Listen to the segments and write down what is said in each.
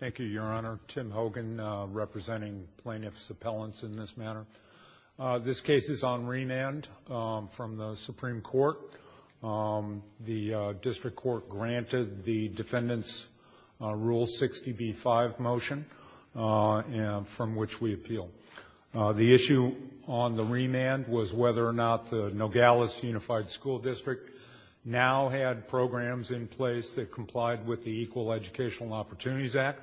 Thank you, Your Honor. Tim Hogan representing plaintiff's appellants in this matter. This case is on remand from the Supreme Court. The district court granted the defendant's Rule 60b-5 motion from which we appeal. The issue on the remand was whether or not the Nogales Unified School District now had programs in place that complied with the Equal Educational Opportunities Act.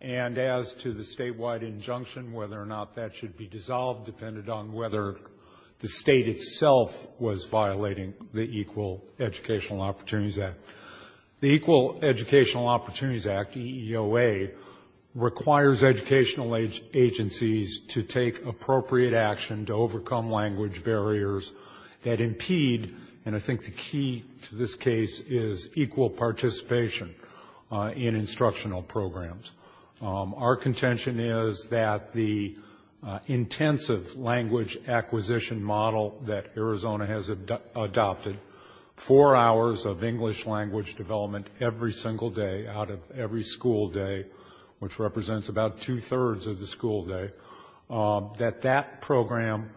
And as to the statewide injunction, whether or not that should be dissolved depended on whether the state itself was violating the Equal Educational Opportunities Act. The Equal Educational Opportunities Act, EEOA, requires educational agencies to take appropriate action to overcome language barriers that impede and I think the key to this case is equal participation in instructional programs. Our contention is that the intensive language acquisition model that Arizona has adopted, four hours of English language development every single day out of every school day, which represents about two-thirds of the school day, that that program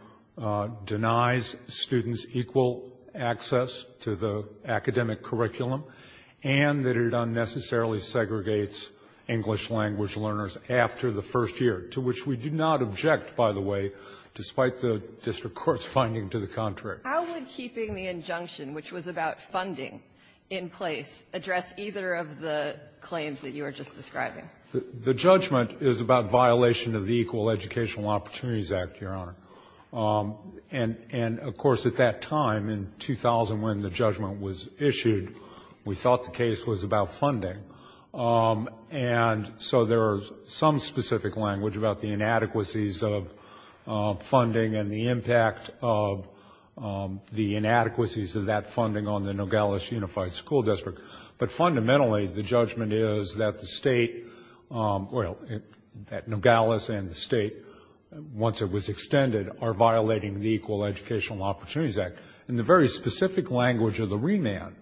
denies students equal access to the academic curriculum and that it unnecessarily segregates English language learners after the first year, to which we do not object, by the way, despite the district court's finding to the contrary. How would keeping the injunction, which was about funding in place, address either of the claims that you were just describing? The judgment is about violation of the Equal Educational Opportunities Act, Your Honor. And, of course, at that time, in 2000, when the judgment was issued, we thought the case was about funding. And so there is some specific language about the inadequacies of funding and the impact of the inadequacies of that funding on the Nogales Unified School District. But fundamentally, the judgment is that the state, well, that Nogales and the state, once it was extended, are violating the Equal Educational Opportunities Act. And the very specific language of the remand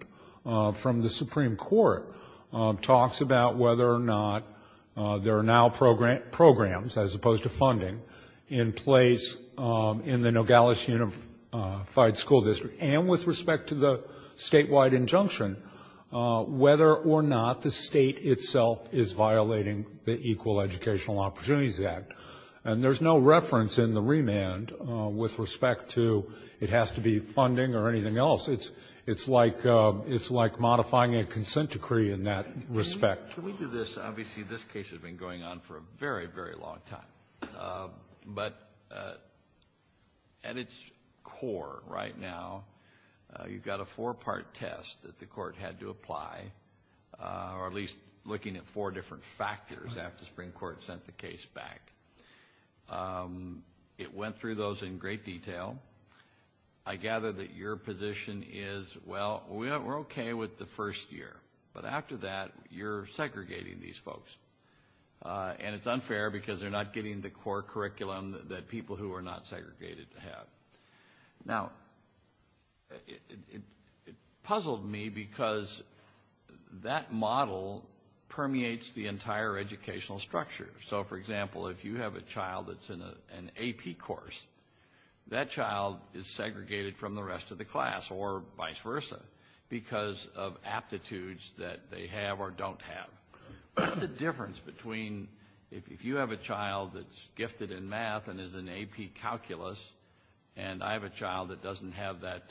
from the Supreme Court talks about whether or not there are now programs, as opposed to funding, in place in the Nogales Unified School District. And with respect to the statewide injunction, whether or not the state itself is violating the Equal Educational Opportunities Act. And there's no reference in the remand with respect to it has to be funding or anything else. It's like modifying a consent decree in that respect. Can we do this? Obviously, this case has been going on for a very, very long time. But at its core right now, you've got a four-part test that the court had to apply, or at least looking at four different factors after the Supreme Court sent the case back. It went through those in great detail. I gather that your position is, well, we're okay with the first year. But after that, you're segregating these folks. And it's unfair because they're not getting the core curriculum that people who are not segregated have. Now, it puzzled me because that model permeates the entire educational structure. So, for example, if you have a child that's in an AP course, that child is segregated from the rest of the class, or vice versa, because of aptitudes that they have or don't have. What's the difference between if you have a child that's gifted in math and is an AP calculus, and I have a child that doesn't have that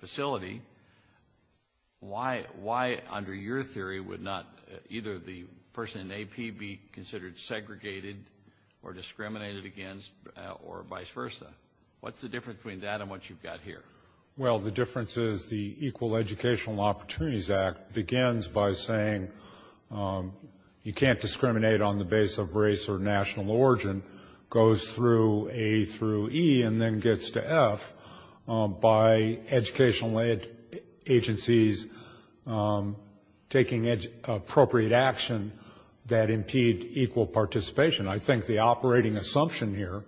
facility, why, under your theory, would either the person in AP be considered segregated or discriminated against or vice versa? What's the difference between that and what you've got here? Well, the difference is the Equal Educational Opportunities Act begins by saying you can't discriminate on the base of race or national origin, goes through A through E, and then gets to F by educational agencies taking appropriate action that impede equal participation. I think the operating assumption here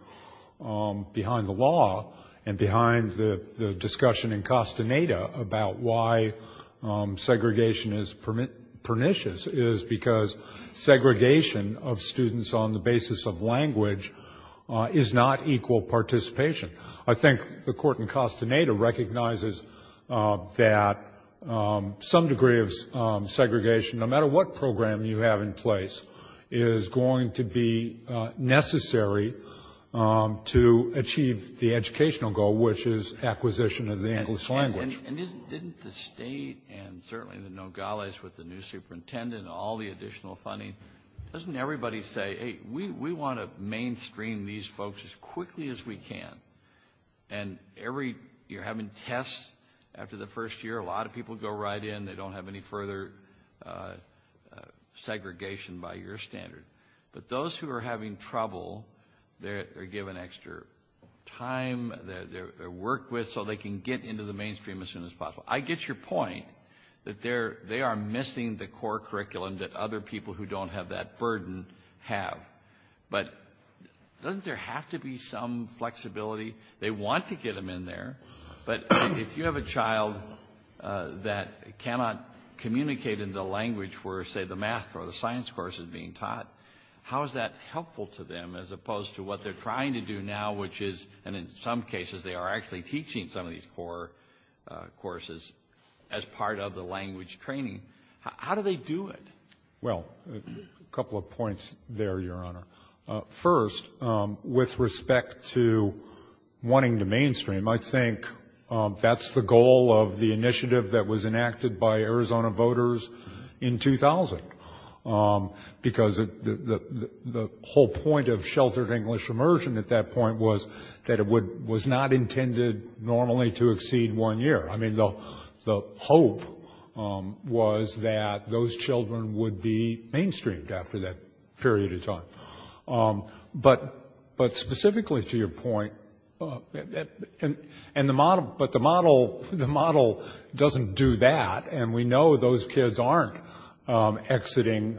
behind the law and behind the discussion in Castaneda about why segregation is pernicious is because segregation of students on the basis of language is not equal participation. I think the court in Castaneda recognizes that some degree of segregation, no matter what program you have in place, is going to be necessary to achieve the educational goal, which is acquisition of the English language. And didn't the state and certainly the Nogales with the new superintendent and all the additional funding, doesn't everybody say, hey, we want to mainstream these folks as quickly as we can, and you're having tests after the first year, a lot of people go right in, they don't have any further segregation by your standard. But those who are having trouble, they're given extra time, they're worked with, so they can get into the mainstream as soon as possible. I get your point that they are missing the core curriculum that other people who don't have that burden have. But doesn't there have to be some flexibility? They want to get them in there. But if you have a child that cannot communicate in the language where, say, the math or the science course is being taught, how is that helpful to them, as opposed to what they're trying to do now, which is, and in some cases, they are actually teaching some of these core courses as part of the language training. How do they do it? Well, a couple of points there, Your Honor. First, with respect to wanting to mainstream, I think that's the goal of the initiative that was enacted by Arizona voters in 2000, because the whole point of sheltered English immersion at that point was that it was not intended normally to exceed one year. I mean, the hope was that those children would be mainstreamed after that period of time. But specifically to your point, but the model doesn't do that, and we know those kids aren't exiting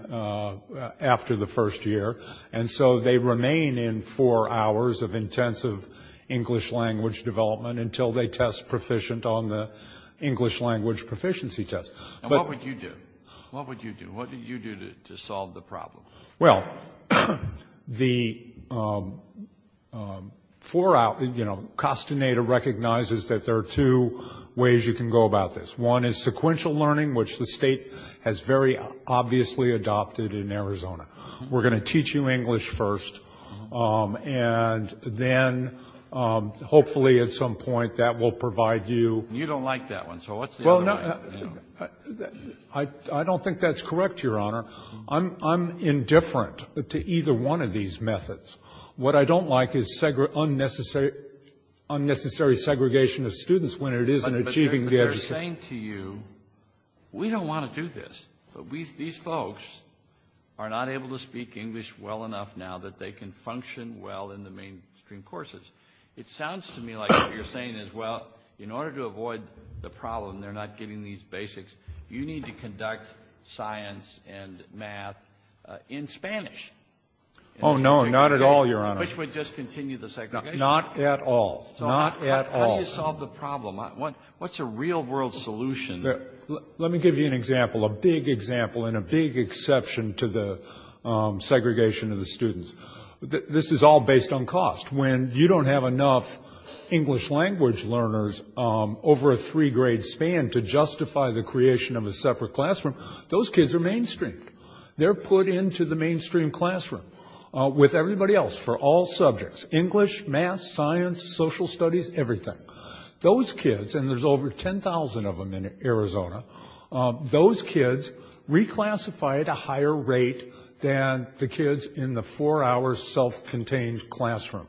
after the first year, and so they remain in four hours of intensive English language development until they test proficient on the English language proficiency test. And what would you do? What would you do? What would you do to solve the problem? Well, the four-hour, you know, Costinator recognizes that there are two ways you can go about this. One is sequential learning, which the state has very obviously adopted in Arizona. We're going to teach you English first, and then hopefully at some point that will provide you. You don't like that one, so what's the other way? Well, I don't think that's correct, Your Honor. I'm indifferent to either one of these methods. What I don't like is unnecessary segregation of students when it isn't achieving the objective. I'm saying to you we don't want to do this, but these folks are not able to speak English well enough now that they can function well in the mainstream courses. It sounds to me like what you're saying is, well, in order to avoid the problem, they're not getting these basics, you need to conduct science and math in Spanish. Oh, no, not at all, Your Honor. Which would just continue the segregation. Not at all. Not at all. How do you solve the problem? What's a real-world solution? Let me give you an example, a big example and a big exception to the segregation of the students. This is all based on cost. When you don't have enough English language learners over a three-grade span to justify the creation of a separate classroom, those kids are mainstreamed. They're put into the mainstream classroom with everybody else for all subjects, English, math, science, social studies, everything. Those kids, and there's over 10,000 of them in Arizona, those kids reclassify at a higher rate than the kids in the four-hour self-contained classroom.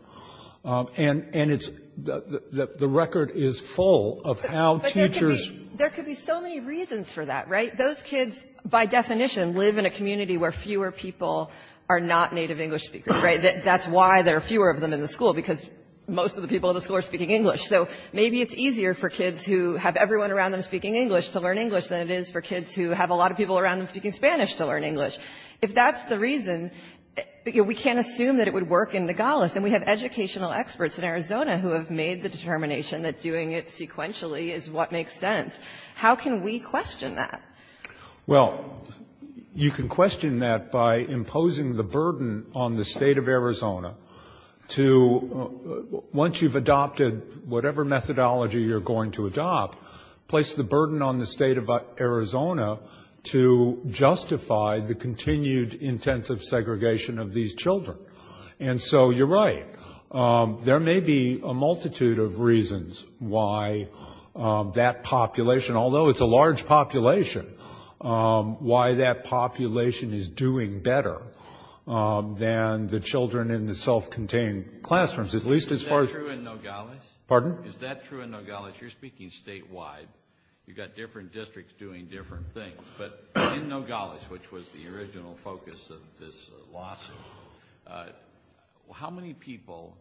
And it's the record is full of how teachers. But there could be so many reasons for that, right? Those kids, by definition, live in a community where fewer people are not native English speakers, right? That's why there are fewer of them in the school, because most of the people in the school are speaking English. So maybe it's easier for kids who have everyone around them speaking English to learn English than it is for kids who have a lot of people around them speaking Spanish to learn English. If that's the reason, we can't assume that it would work in Nogales. And we have educational experts in Arizona who have made the determination that doing it sequentially is what makes sense. How can we question that? Well, you can question that by imposing the burden on the state of Arizona to, once you've adopted whatever methodology you're going to adopt, place the burden on the state of Arizona to justify the continued intensive segregation of these children. And so you're right. There may be a multitude of reasons why that population, although it's a large population, why that population is doing better than the children in the self-contained classrooms, at least as far as- Is that true in Nogales? Is that true in Nogales? You're speaking statewide. You've got different districts doing different things. But in Nogales, which was the original focus of this lawsuit, how many people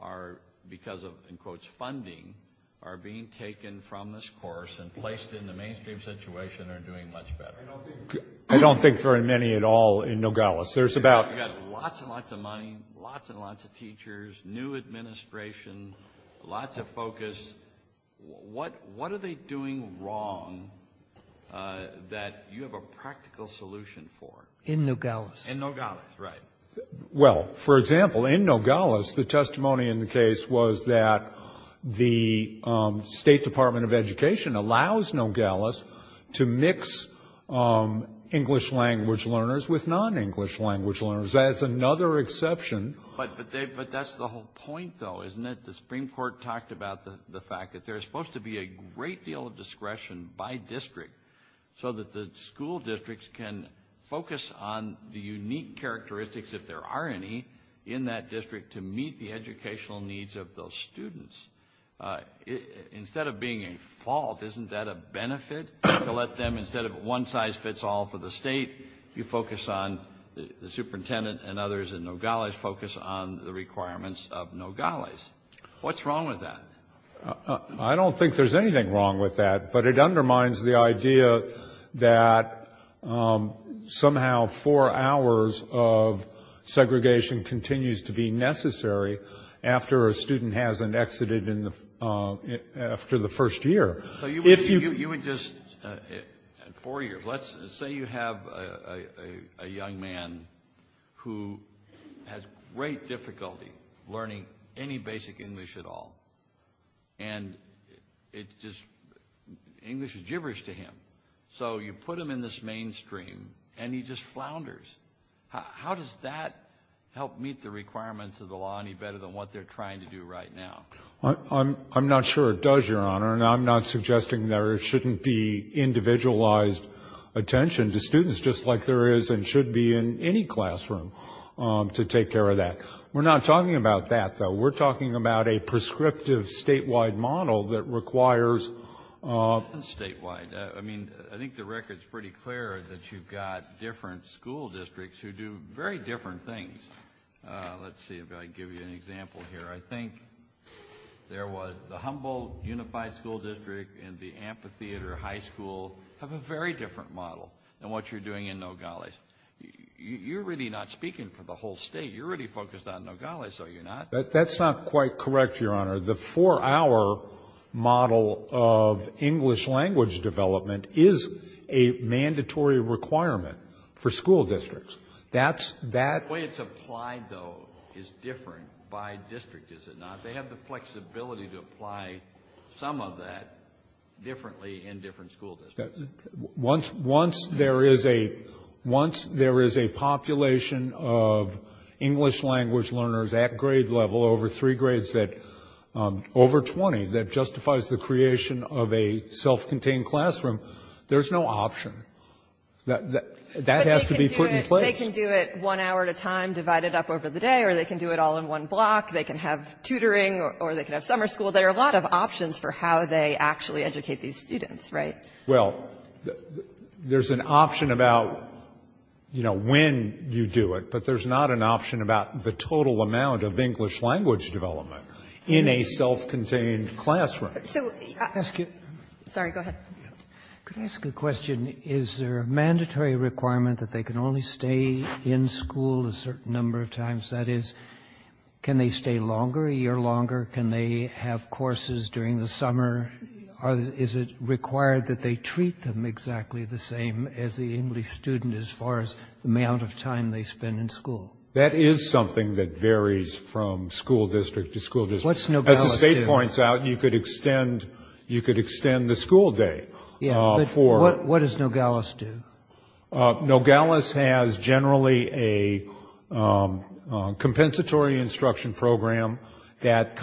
are because of, in quotes, funding are being taken from this course and placed in the mainstream situation are doing much better? I don't think very many at all in Nogales. There's about- You've got lots and lots of money, lots and lots of teachers, new administration, lots of focus. What are they doing wrong that you have a practical solution for? In Nogales, right. Well, for example, in Nogales, the testimony in the case was that the State Department of Education allows Nogales to mix English language learners with non-English language learners as another exception. But that's the whole point, though, isn't it? The Supreme Court talked about the fact that there's supposed to be a great deal of discretion by district so that the school districts can focus on the unique characteristics, if there are any, in that district to meet the educational needs of those students. Instead of being a fault, isn't that a benefit to let them, instead of one size fits all for the state, you focus on the superintendent and others in Nogales focus on the requirements of Nogales. What's wrong with that? I don't think there's anything wrong with that. But it undermines the idea that somehow four hours of segregation continues to be necessary after a student hasn't exited after the first year. You would just, in four years, let's say you have a young man who has great difficulty learning any basic English at all and English is gibberish to him. So you put him in this mainstream and he just flounders. How does that help meet the requirements of the law any better than what they're trying to do right now? I'm not sure it does, Your Honor. And I'm not suggesting there shouldn't be individualized attention to students just like there is and should be in any classroom to take care of that. We're not talking about that, though. We're talking about a prescriptive statewide model that requires... Statewide. I mean, I think the record's pretty clear that you've got different school districts who do very different things. Let's see if I can give you an example here. I think there was the Humboldt Unified School District and the Amphitheater High School have a very different model than what you're doing in Nogales. You're really not speaking for the whole state. You're really focused on Nogales, are you not? That's not quite correct, Your Honor. The four-hour model of English language development is a mandatory requirement for school districts. The way it's applied, though, is different by district, is it not? They have the flexibility to apply some of that differently in different school districts. Once there is a population of English language learners at grade level, over three grades, over 20, that justifies the creation of a self-contained classroom, there's no option. That has to be put in place. But they can do it one hour at a time, divide it up over the day, or they can do it all in one block. They can have tutoring or they can have summer school. There are a lot of options for how they actually educate these students, right? Well, there's an option about, you know, when you do it, but there's not an option about the total amount of English language development in a self-contained classroom. So... Excuse me. Sorry, go ahead. Could I ask a question? Is there a mandatory requirement that they can only stay in school a certain number of times? That is, can they stay longer, a year longer? Can they have courses during the summer? Is it required that they treat them exactly the same as the English student as far as the amount of time they spend in school? That is something that varies from school district to school district. What's no balance? As the state points out, you could extend the school day for... Yeah, but what does Nogales do? Nogales has generally a compensatory instruction program that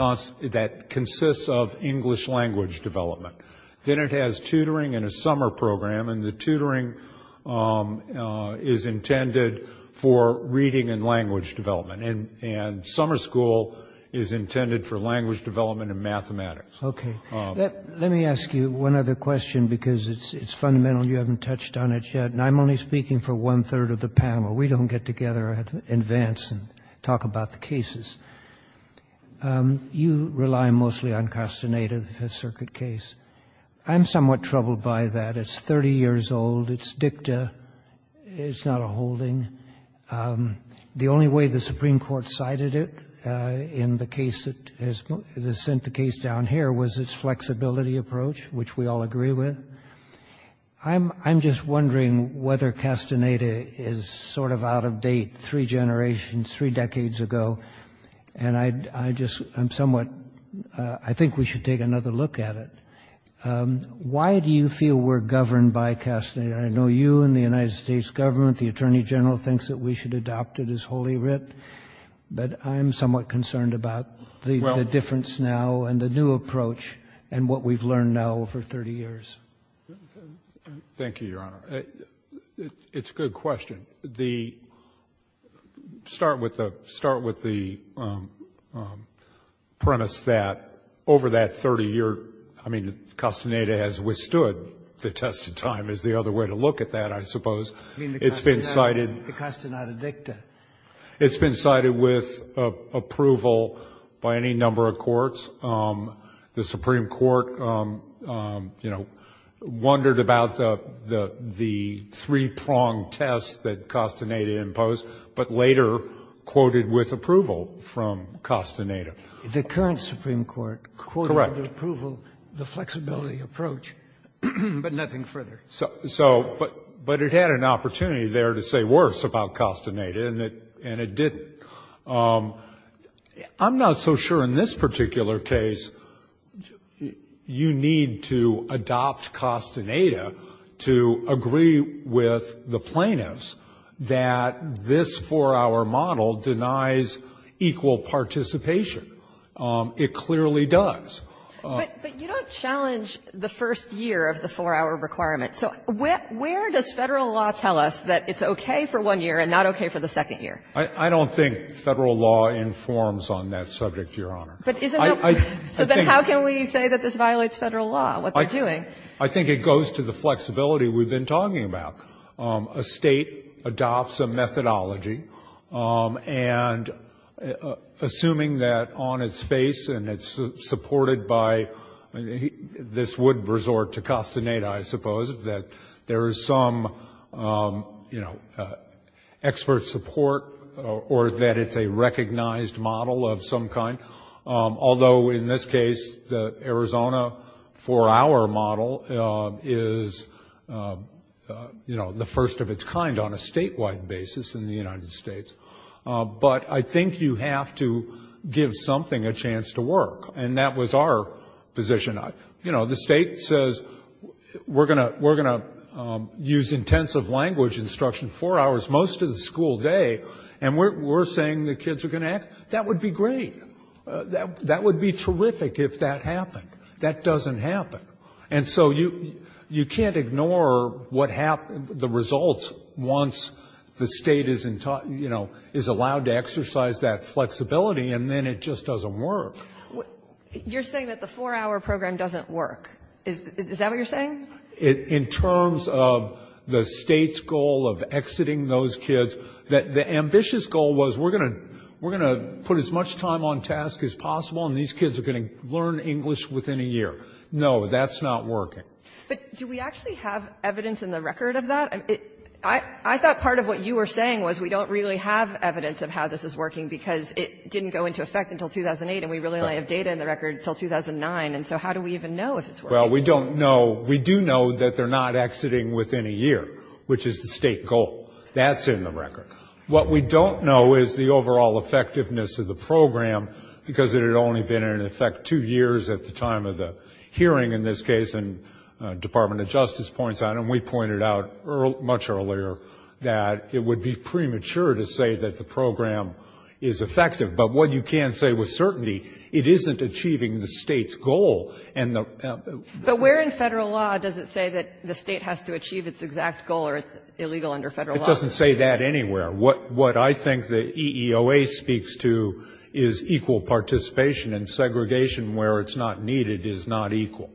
consists of English language development. Then it has tutoring and a summer program, and the tutoring is intended for reading and language development. And summer school is intended for language development and mathematics. Okay. Let me ask you one other question because it's fundamental and you haven't touched on it yet, and I'm only speaking for one-third of the panel. We don't get together and advance and talk about the cases. You rely mostly on Castaneda, the circuit case. I'm somewhat troubled by that. It's 30 years old. It's dicta. It's not a holding. The only way the Supreme Court cited it in the case that has sent the case down here was its flexibility approach, which we all agree with. I'm just wondering whether Castaneda is sort of out of date three generations, three decades ago, and I just am somewhat... I think we should take another look at it. Why do you feel we're governed by Castaneda? I know you and the United States government, the Attorney General, thinks that we should adopt it as wholly writ, but I'm somewhat concerned about the difference now and the new approach and what we've learned now over 30 years. Thank you, Your Honor. It's a good question. Start with the premise that over that 30-year... I mean, Castaneda has withstood the test of time is the other way to look at that, I suppose. It's been cited... The Castaneda dicta. It's been cited with approval by any number of courts. The Supreme Court, you know, wondered about the three-pronged test that Castaneda imposed, but later quoted with approval from Castaneda. The current Supreme Court quoted with approval the flexibility approach, but nothing further. But it had an opportunity there to say worse about Castaneda, and it didn't. I'm not so sure in this particular case you need to adopt Castaneda to agree with the plaintiffs that this four-hour model denies equal participation. It clearly does. But you don't challenge the first year of the four-hour requirement. So where does Federal law tell us that it's okay for one year and not okay for the second year? I don't think Federal law informs on that subject, Your Honor. But is it not? So then how can we say that this violates Federal law, what they're doing? I think it goes to the flexibility we've been talking about. A state adopts a methodology. And assuming that on its face and it's supported by this would resort to Castaneda, I suppose, that there is some, you know, expert support or that it's a recognized model of some kind, although in this case the Arizona four-hour model is, you know, the first of its kind on a statewide basis in the United States. But I think you have to give something a chance to work. And that was our position. You know, the state says we're going to use intensive language instruction four hours most of the school day, and we're saying the kids are going to act. That would be great. That would be terrific if that happened. That doesn't happen. And so you can't ignore what happens, the results, once the State is, you know, is allowed to exercise that flexibility, and then it just doesn't work. You're saying that the four-hour program doesn't work. Is that what you're saying? In terms of the State's goal of exiting those kids, the ambitious goal was we're going to put as much time on task as possible, and these kids are going to learn English within a year. No, that's not working. But do we actually have evidence in the record of that? I thought part of what you were saying was we don't really have evidence of how this is working because it didn't go into effect until 2008, and we really only have data in the record until 2009. And so how do we even know if it's working? Well, we don't know. We do know that they're not exiting within a year, which is the State goal. That's in the record. What we don't know is the overall effectiveness of the program because it had only been in effect two years at the time of the hearing in this case, and the Department of Justice points out, and we pointed out much earlier, that it would be premature to say that the program is effective. But what you can say with certainty, it isn't achieving the State's goal. And the ---- But where in Federal law does it say that the State has to achieve its exact goal or it's illegal under Federal law? It just doesn't say that anywhere. What I think the EEOA speaks to is equal participation, and segregation where it's not needed is not equal.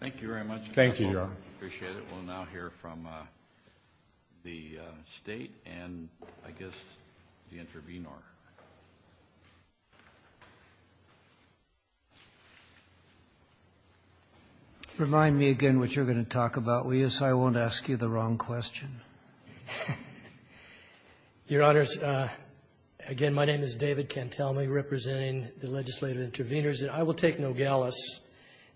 Thank you very much. Thank you, Your Honor. Appreciate it. We'll now hear from the State and, I guess, the intervenor. Remind me again what you're going to talk about, Luis. I won't ask you the wrong question. Your Honors, again, my name is David Cantelmi representing the legislative intervenors. I will take Nogales,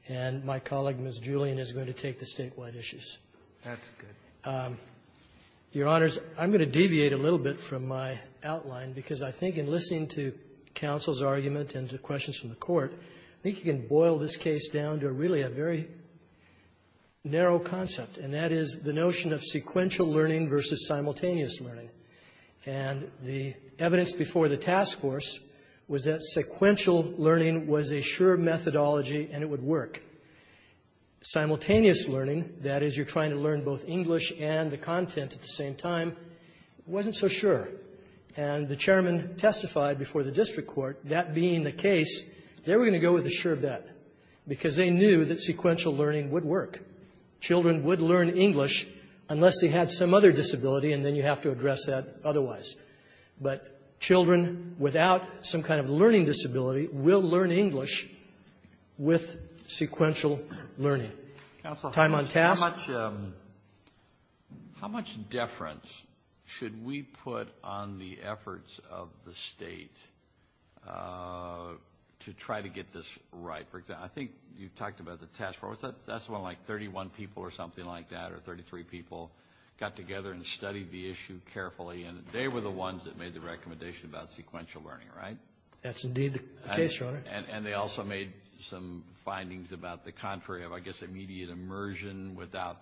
and my colleague, Ms. Julian, is going to take the statewide issues. That's good. Your Honors, I'm going to deviate a little bit from my outline because I think in listening to counsel's argument and to questions from the Court, I think you can boil this case down to really a very narrow concept, and that is the notion of sequential learning versus simultaneous learning. And the evidence before the task force was that sequential learning was a sure methodology and it would work. Simultaneous learning, that is, you're trying to learn both English and the content at the same time, wasn't so sure. And the Chairman testified before the district court, that being the case, they were going to go with a sure bet because they knew that sequential learning would work. Children would learn English unless they had some other disability, and then you have to address that otherwise. But children without some kind of learning disability will learn English with sequential learning. Time on task. How much deference should we put on the efforts of the State to try to get this right? I think you talked about the task force. That's when like 31 people or something like that or 33 people got together and studied the issue carefully, and they were the ones that made the recommendation about sequential learning, right? That's indeed the case, Your Honor. And they also made some findings about the contrary of, I guess, immediate immersion without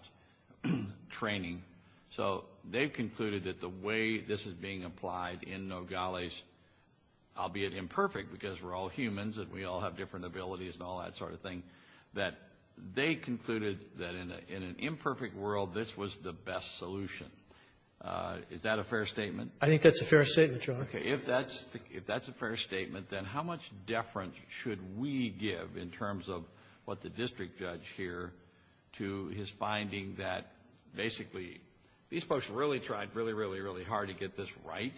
training. So they concluded that the way this is being applied in Nogales, albeit imperfect because we're all humans and we all have different abilities and all that sort of thing, that they concluded that in an imperfect world, this was the best solution. Is that a fair statement? I think that's a fair statement, Your Honor. Okay. If that's a fair statement, then how much deference should we give in terms of what the district judge here to his finding that basically these folks really tried really, really, really hard to get this right,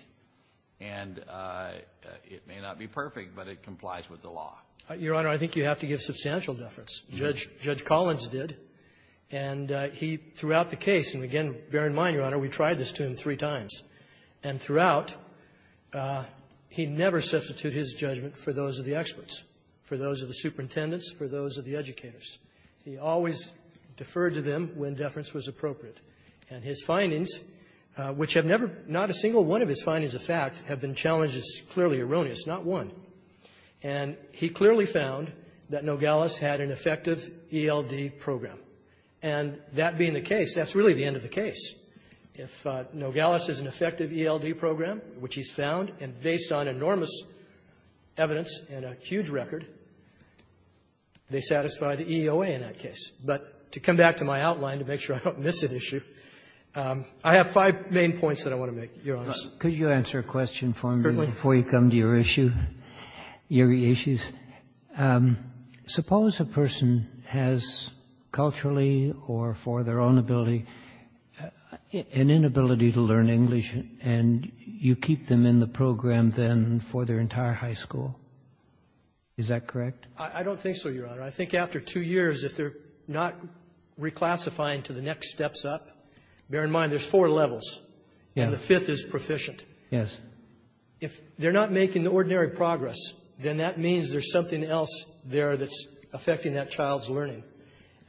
and it may not be perfect, but it complies with the law? Your Honor, I think you have to give substantial deference. Judge Collins did. And he, throughout the case, and again, bear in mind, Your Honor, we tried this to him two or three times, and throughout, he never substituted his judgment for those of the experts, for those of the superintendents, for those of the educators. He always deferred to them when deference was appropriate. And his findings, which have never been, not a single one of his findings of fact have been challenged as clearly erroneous, not one. And he clearly found that Nogales had an effective ELD program. And that being the case, that's really the end of the case. If Nogales has an effective ELD program, which he's found, and based on enormous evidence and a huge record, they satisfy the EOA in that case. But to come back to my outline to make sure I don't miss an issue, I have five main points that I want to make, Your Honor. Could you answer a question for me before you come to your issue, your issues? Suppose a person has culturally or for their own ability an inability to learn English, and you keep them in the program then for their entire high school. Is that correct? I don't think so, Your Honor. I think after two years, if they're not reclassifying to the next steps up, bear in mind there's four levels, and the fifth is proficient. Yes. If they're not making the ordinary progress, then that means there's something else there that's affecting that child's learning.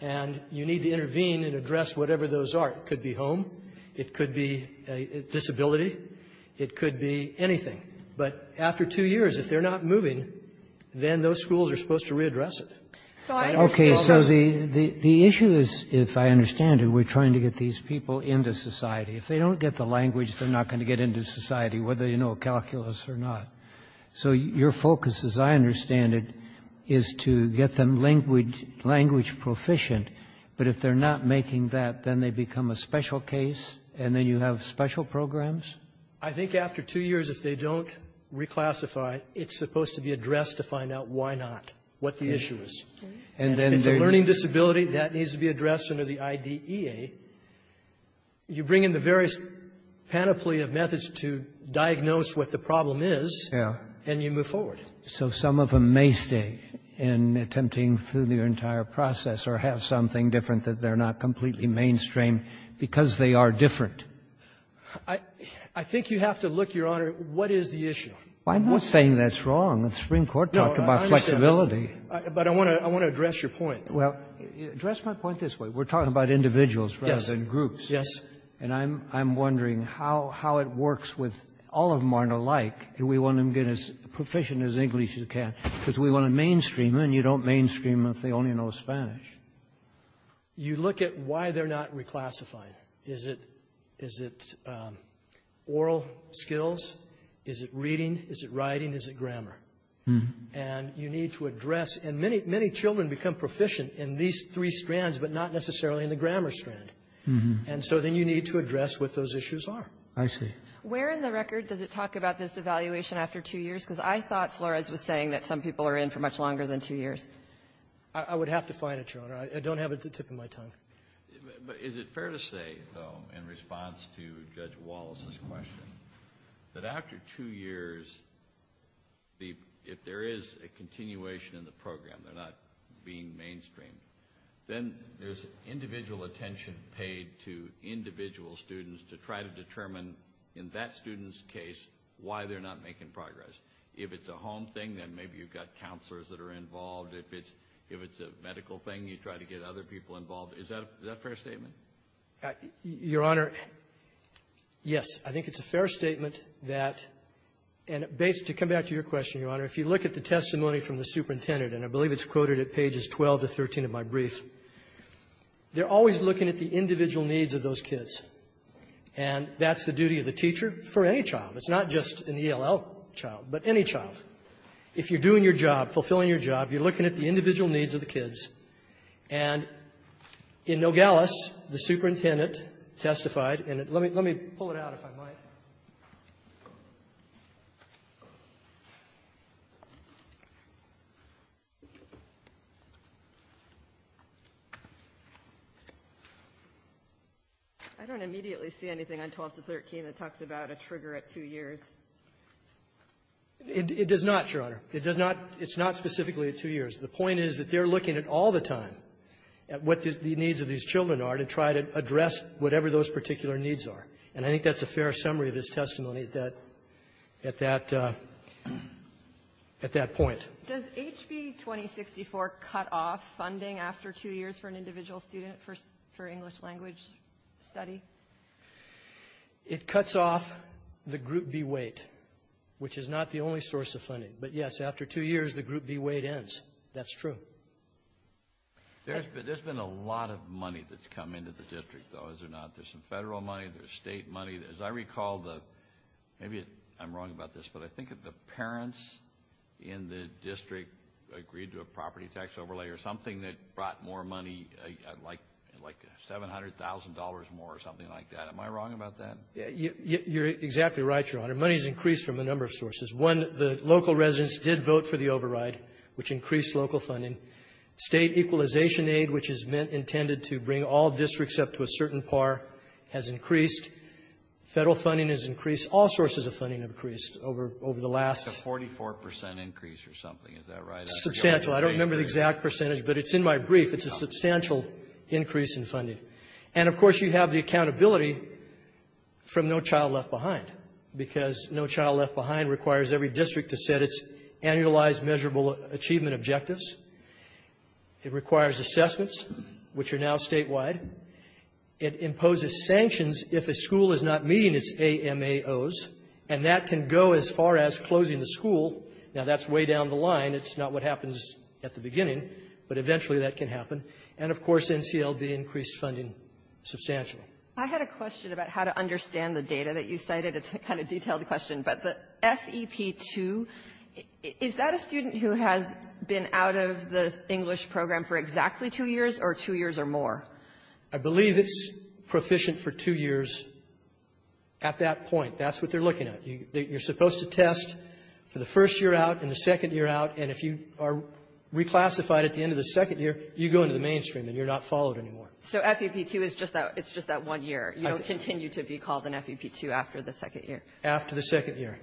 And you need to intervene and address whatever those are. It could be home. It could be a disability. It could be anything. But after two years, if they're not moving, then those schools are supposed to readdress it. So I understand the issue is, if I understand it, we're trying to get these people into society. If they don't get the language, they're not going to get into society, whether you know calculus or not. So your focus, as I understand it, is to get them language proficient. But if they're not making that, then they become a special case, and then you have special programs? I think after two years, if they don't reclassify, it's supposed to be addressed to find out why not, what the issue is. And then there's a learning disability that needs to be addressed under the IDEA. You bring in the various panoply of methods to diagnose what the problem is. Yeah. And you move forward. So some of them may stay in attempting through their entire process or have something different that they're not completely mainstream because they are different. I think you have to look, Your Honor, what is the issue? I'm not saying that's wrong. The Supreme Court talked about flexibility. No, I understand. But I want to address your point. Well, address my point this way. We're talking about individuals, right? Yes. And groups. Yes. And I'm wondering how it works with all of them are alike. Do we want them to get as proficient as English as you can? Because we want to mainstream them, and you don't mainstream them if they only know Spanish. You look at why they're not reclassifying. Is it oral skills? Is it reading? Is it writing? Is it grammar? And you need to address. And many children become proficient in these three strands, but not necessarily in the grammar strand. And so then you need to address what those issues are. I see. Where in the record does it talk about this evaluation after two years? Because I thought Flores was saying that some people are in for much longer than two years. I would have to find it, Your Honor. I don't have it at the tip of my tongue. But is it fair to say, though, in response to Judge Wallace's question, that after two years, if there is a continuation in the program, they're not being mainstream, then there's individual attention paid to individual students to try to determine in that student's case why they're not making progress. If it's a home thing, then maybe you've got counselors that are involved. If it's a medical thing, you try to get other people involved. Is that a fair statement? Your Honor, yes. I think it's a fair statement that to come back to your question, Your Honor, if you look at the testimony from the superintendent, and I believe it's quoted at pages 12 to 13 of my brief, they're always looking at the individual needs of those kids. And that's the duty of the teacher for any child. It's not just an ELL child, but any child. If you're doing your job, fulfilling your job, you're looking at the individual needs of the kids. And in Nogales, the superintendent testified, and let me pull it out, if I might. I don't immediately see anything on 12 to 13 that talks about a trigger at two years. It does not, Your Honor. It does not. It's not specifically at two years. The point is that they're looking at all the time at what the needs of these children are to try to address whatever those particular needs are. And I think that's a fair summary of his testimony at that point. Does HB 2064 cut off funding after two years for an individual student for English language study? It cuts off the Group B weight, which is not the only source of funding. But, yes, after two years, the Group B weight ends. That's true. There's been a lot of money that's come into the district, though, is there not? There's some Federal money. There's State money. As I recall, the — maybe I'm wrong about this, but I think that the parents in the district agreed to a property tax overlay or something that brought more money, like $700,000 more or something like that. Am I wrong about that? You're exactly right, Your Honor. Money has increased from a number of sources. One, the local residents did vote for the override, which increased local funding. State equalization aid, which is meant — intended to bring all districts up to a certain par, has increased. Federal funding has increased. All sources of funding have increased over the last — It's a 44 percent increase or something. Is that right? Substantial. I don't remember the exact percentage, but it's in my brief. It's a substantial increase in funding. And, of course, you have the accountability from No Child Left Behind, because No Child Left Behind requires every district to set its annualized measurable achievement objectives. It requires assessments, which are now statewide. It imposes sanctions if a school is not meeting its AMAOs. And that can go as far as closing the school. Now, that's way down the line. It's not what happens at the beginning, but eventually that can happen. And, of course, NCLB increased funding substantially. I had a question about how to understand the data that you cited. It's a kind of detailed question. But the FEP2, is that a student who has been out of the English program for exactly two years or two years or more? I believe it's proficient for two years at that point. That's what they're looking at. You're supposed to test for the first year out and the second year out. And if you are reclassified at the end of the second year, you go into the mainstream and you're not followed anymore. So FEP2 is just that one year. You don't continue to be called an FEP2 after the second year. After the second year.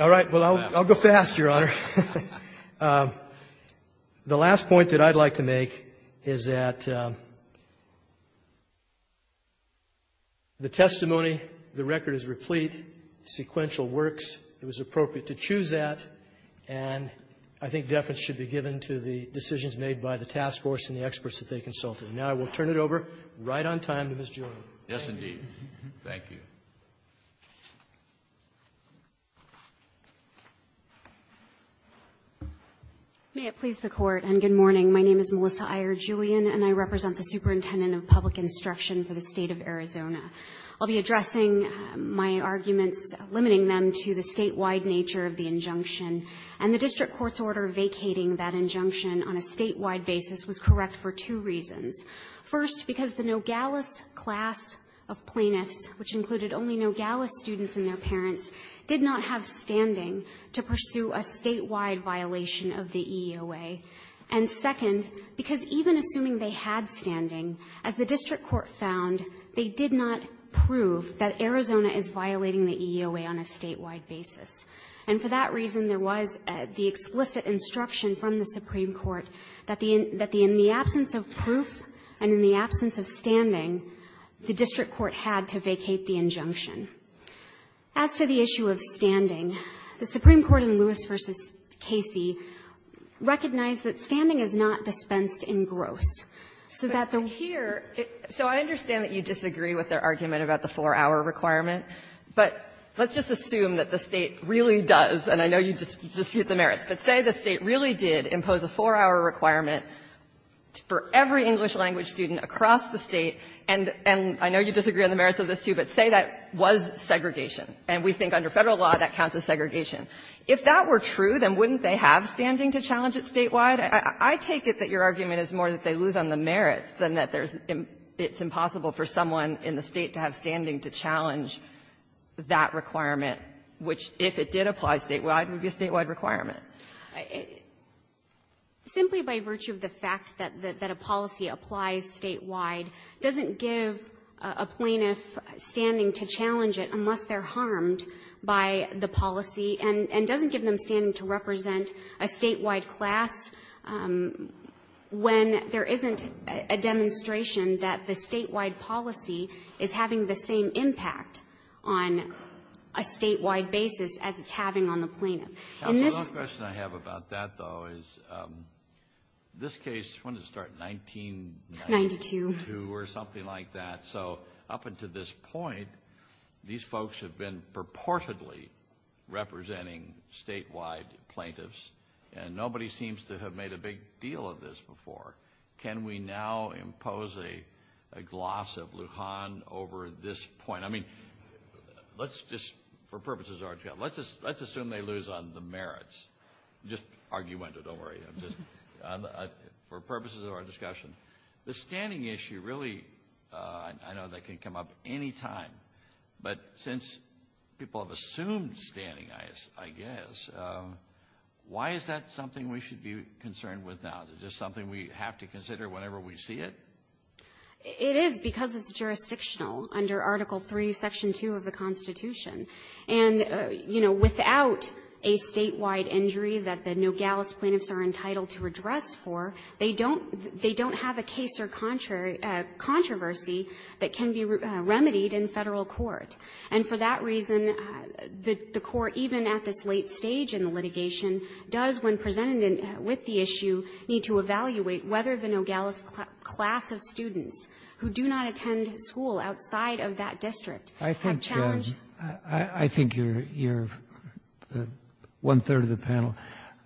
All right. Well, I'll go fast, Your Honor. The last point that I'd like to make is that the testimony, the record is replete, sequential works. It was appropriate to choose that. And I think deference should be given to the decisions made by the task force and the experts that they consulted. Now I will turn it over right on time to Ms. Jordan. Yes, indeed. Thank you. May it please the Court. And good morning. My name is Melissa Iyer Julian, and I represent the superintendent of public instruction for the state of Arizona. I'll be addressing my arguments, limiting them to the statewide nature of the injunction. And the district court's order vacating that injunction on a statewide basis was correct for two reasons. First, because the Nogales class of plaintiffs, which included only Nogales students and their parents, did not have standing to pursue a statewide violation of the EEOA. And second, because even assuming they had standing, as the district court found, they did not prove that Arizona is violating the EEOA on a statewide basis. And for that reason, there was the explicit instruction from the Supreme Court that in the absence of proof and in the absence of standing, the district court had to vacate the injunction. As to the issue of standing, the Supreme Court in Lewis v. Casey recognized that standing is not dispensed in gross, so that the one here so I understand that you disagree with their argument about the four-hour requirement, but let's just assume that the State really does, and I know you dispute the merits, but say the State really did impose a four-hour requirement for every English language student across the State, and I know you disagree on the merits of this, too, but say that was segregation, and we think under Federal law that counts as segregation. If that were true, then wouldn't they have standing to challenge it statewide? I take it that your argument is more that they lose on the merits than that it's impossible for someone in the State to have standing to challenge that requirement, which, if it did apply statewide, would be a statewide requirement. Simply by virtue of the fact that a policy applies statewide doesn't give a plaintiff standing to challenge it unless they're harmed by the policy and doesn't give them standing to represent a statewide class when there isn't a demonstration that the statewide policy is having the same impact on a statewide basis as it's having on the plaintiff. The only question I have about that, though, is this case, when did it start, 1992? Ninety-two. Ninety-two or something like that, so up until this point, these folks have been purportedly representing statewide plaintiffs, and nobody seems to have made a big deal of this before. Can we now impose a gloss of Lujan over this point? I mean, let's just, for purposes of our discussion, let's assume they lose on the merits. Just argument, don't worry, for purposes of our discussion. The standing issue, really, I know that can come up any time, but since people have assumed standing, I guess, why is that something we should be concerned with now? Is it just something we have to consider whenever we see it? It is because it's jurisdictional under Article III, Section 2 of the Constitution. And, you know, without a statewide injury that the Nogales plaintiffs are entitled to address for, they don't have a case or controversy that can be remedied in Federal court. And for that reason, the court, even at this late stage in the litigation, does, when presented with the issue, need to evaluate whether the Nogales class of students who do not attend school outside of that district have challenged the statute. I think you're one-third of the panel.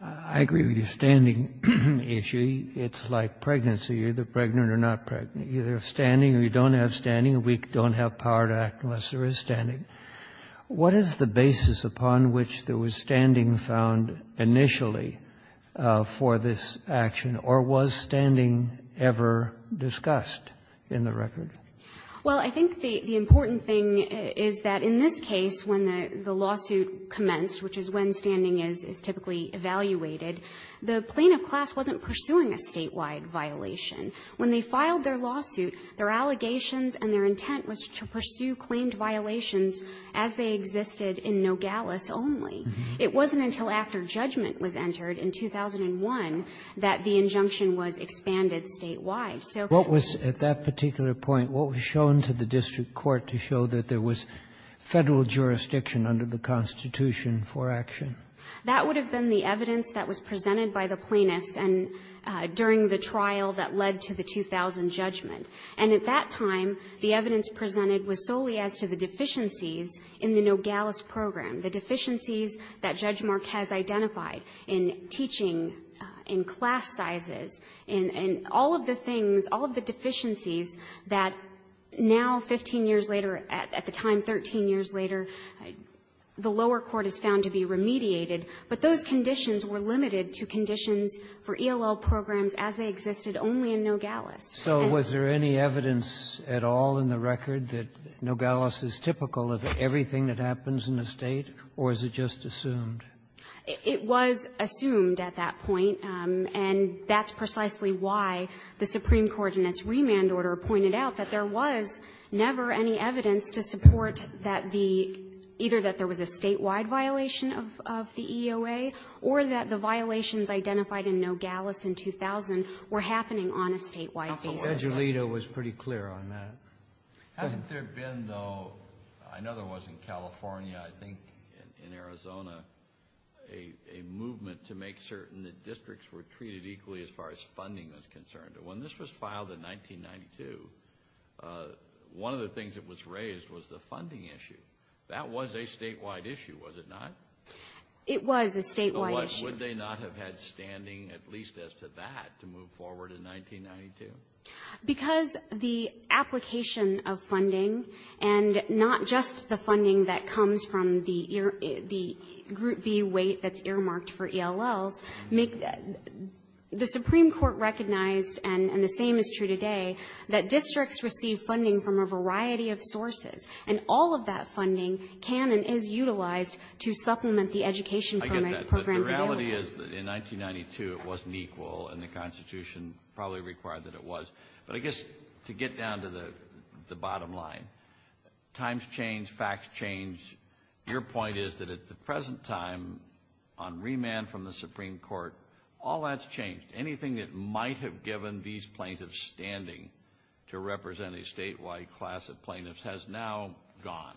I agree with your standing issue. It's like pregnancy. You're either pregnant or not pregnant. You're standing or you don't have standing. A weak don't have power to act unless there is standing. What is the basis upon which there was standing found initially for this action? Or was standing ever discussed in the record? Well, I think the important thing is that in this case, when the lawsuit commenced, which is when standing is typically evaluated, the plaintiff class wasn't pursuing a statewide violation. When they filed their lawsuit, their allegations and their intent was to pursue claimed violations as they existed in Nogales only. It wasn't until after judgment was entered in 2001 that the injunction was expanded statewide. So can you say what was at that particular point, what was shown to the district court to show that there was Federal jurisdiction under the Constitution for action? That would have been the evidence that was presented by the plaintiffs and during the trial that led to the 2000 judgment. And at that time, the evidence presented was solely as to the deficiencies in the Nogales program, the deficiencies that Judge Marquez identified in teaching in class sizes, in all of the things, all of the deficiencies that now 15 years later, at the time 13 years later, the lower court is found to be remediated, but those conditions were limited to conditions for ELL programs as they existed only in Nogales. So was there any evidence at all in the record that Nogales is typical of everything that happens in the State, or is it just assumed? It was assumed at that point, and that's precisely why the supreme court in its remand order pointed out that there was never any evidence to support that the either that there was a statewide violation of the EOA or that the violations identified in Nogales in 2000 were happening on a statewide basis. Judge Alito was pretty clear on that. Hasn't there been, though, I know there was in California, I think in Arizona, a movement to make certain that districts were treated equally as far as funding was concerned? When this was filed in 1992, one of the things that was raised was the funding issue. That was a statewide issue, was it not? It was a statewide issue. Would they not have had standing, at least as to that, to move forward in 1992? Because the application of funding, and not just the funding that comes from the Group B weight that's earmarked for ELLs, the supreme court recognized, and the same is true today, that districts receive funding from a variety of sources, and all of that funding can and is utilized to supplement the education programs The reality is that in 1992 it wasn't equal, and the Constitution probably required that it was. But I guess to get down to the bottom line, times change, facts change. Your point is that at the present time, on remand from the supreme court, all that's changed. Anything that might have given these plaintiffs standing to represent a statewide class of plaintiffs has now gone.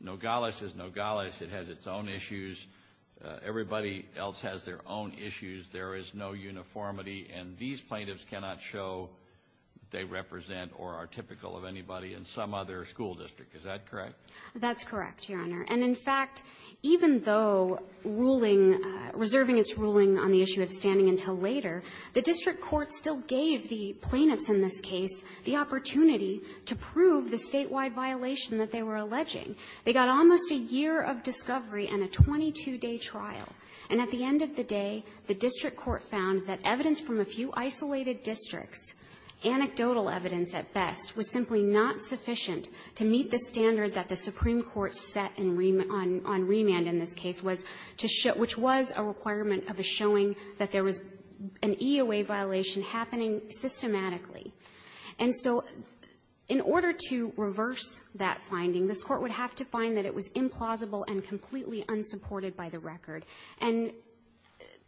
Nogales is Nogales. It has its own issues. Everybody else has their own issues. There is no uniformity, and these plaintiffs cannot show they represent or are typical of anybody in some other school district. Is that correct? That's correct, Your Honor. And in fact, even though ruling, reserving its ruling on the issue of standing until later, the district court still gave the plaintiffs in this case the opportunity to prove the statewide violation that they were alleging. They got almost a year of discovery and a 22-day trial. And at the end of the day, the district court found that evidence from a few isolated districts, anecdotal evidence at best, was simply not sufficient to meet the standard that the supreme court set on remand in this case, which was a requirement of a showing that there was an EOA violation happening systematically. And so in order to reverse that finding, this Court would have to find that it was implausible and completely unsupported by the record. And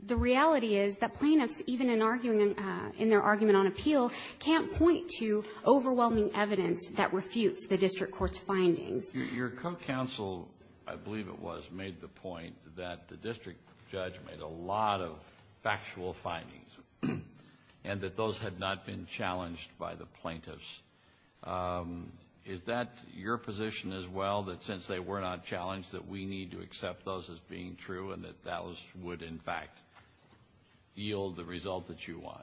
the reality is that plaintiffs, even in arguing in their argument on appeal, can't point to overwhelming evidence that refutes the district court's findings. Your co-counsel, I believe it was, made the point that the district judge made a lot of factual findings and that those had not been challenged by the plaintiffs. Is that your position as well, that since they were not challenged, that we need to accept those as being true and that that would, in fact, yield the result that you want?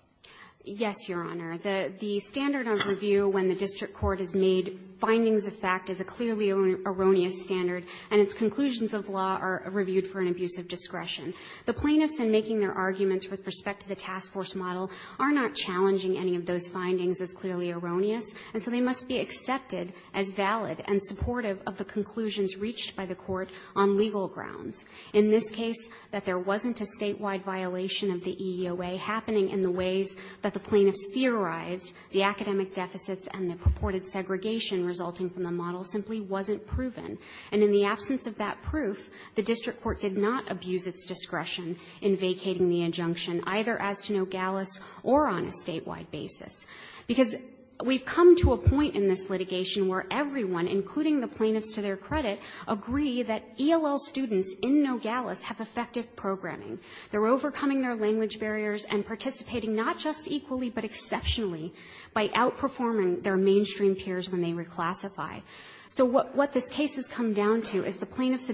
Yes, Your Honor. The standard of review when the district court has made findings of fact is a clearly erroneous standard, and its conclusions of law are reviewed for an abuse of discretion. The plaintiffs, in making their arguments with respect to the task force model, are not challenging any of those findings as clearly erroneous, and so they must be accepted as valid and supportive of the conclusions reached by the Court on legal grounds. In this case, that there wasn't a statewide violation of the EOA happening in the ways that the plaintiffs theorized, the academic deficits and the purported segregation resulting from the model simply wasn't proven. And in the absence of that proof, the district court did not abuse its discretion in vacating the injunction, either as to Nogales or on a statewide basis, because we've come to a point in this litigation where everyone, including the plaintiffs to their credit, agree that ELL students in Nogales have effective programming. They're overcoming their language barriers and participating not just equally, but exceptionally, by outperforming their mainstream peers when they reclassify. So what this case has come down to is the plaintiffs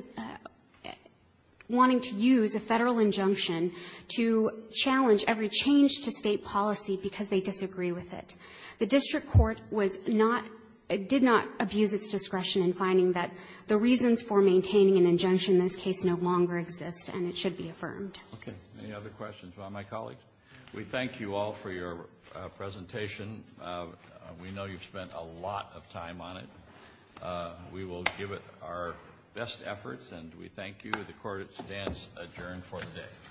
wanting to use a Federal injunction to challenge every change to State policy because they disagree with it. The district court was not – did not abuse its discretion in finding that the reasons for maintaining an injunction in this case no longer exist, and it should be affirmed. Kennedy. Any other questions about my colleagues? We thank you all for your presentation. We know you've spent a lot of time on it. We will give it our best efforts, and we thank you. The court stands adjourned for the day.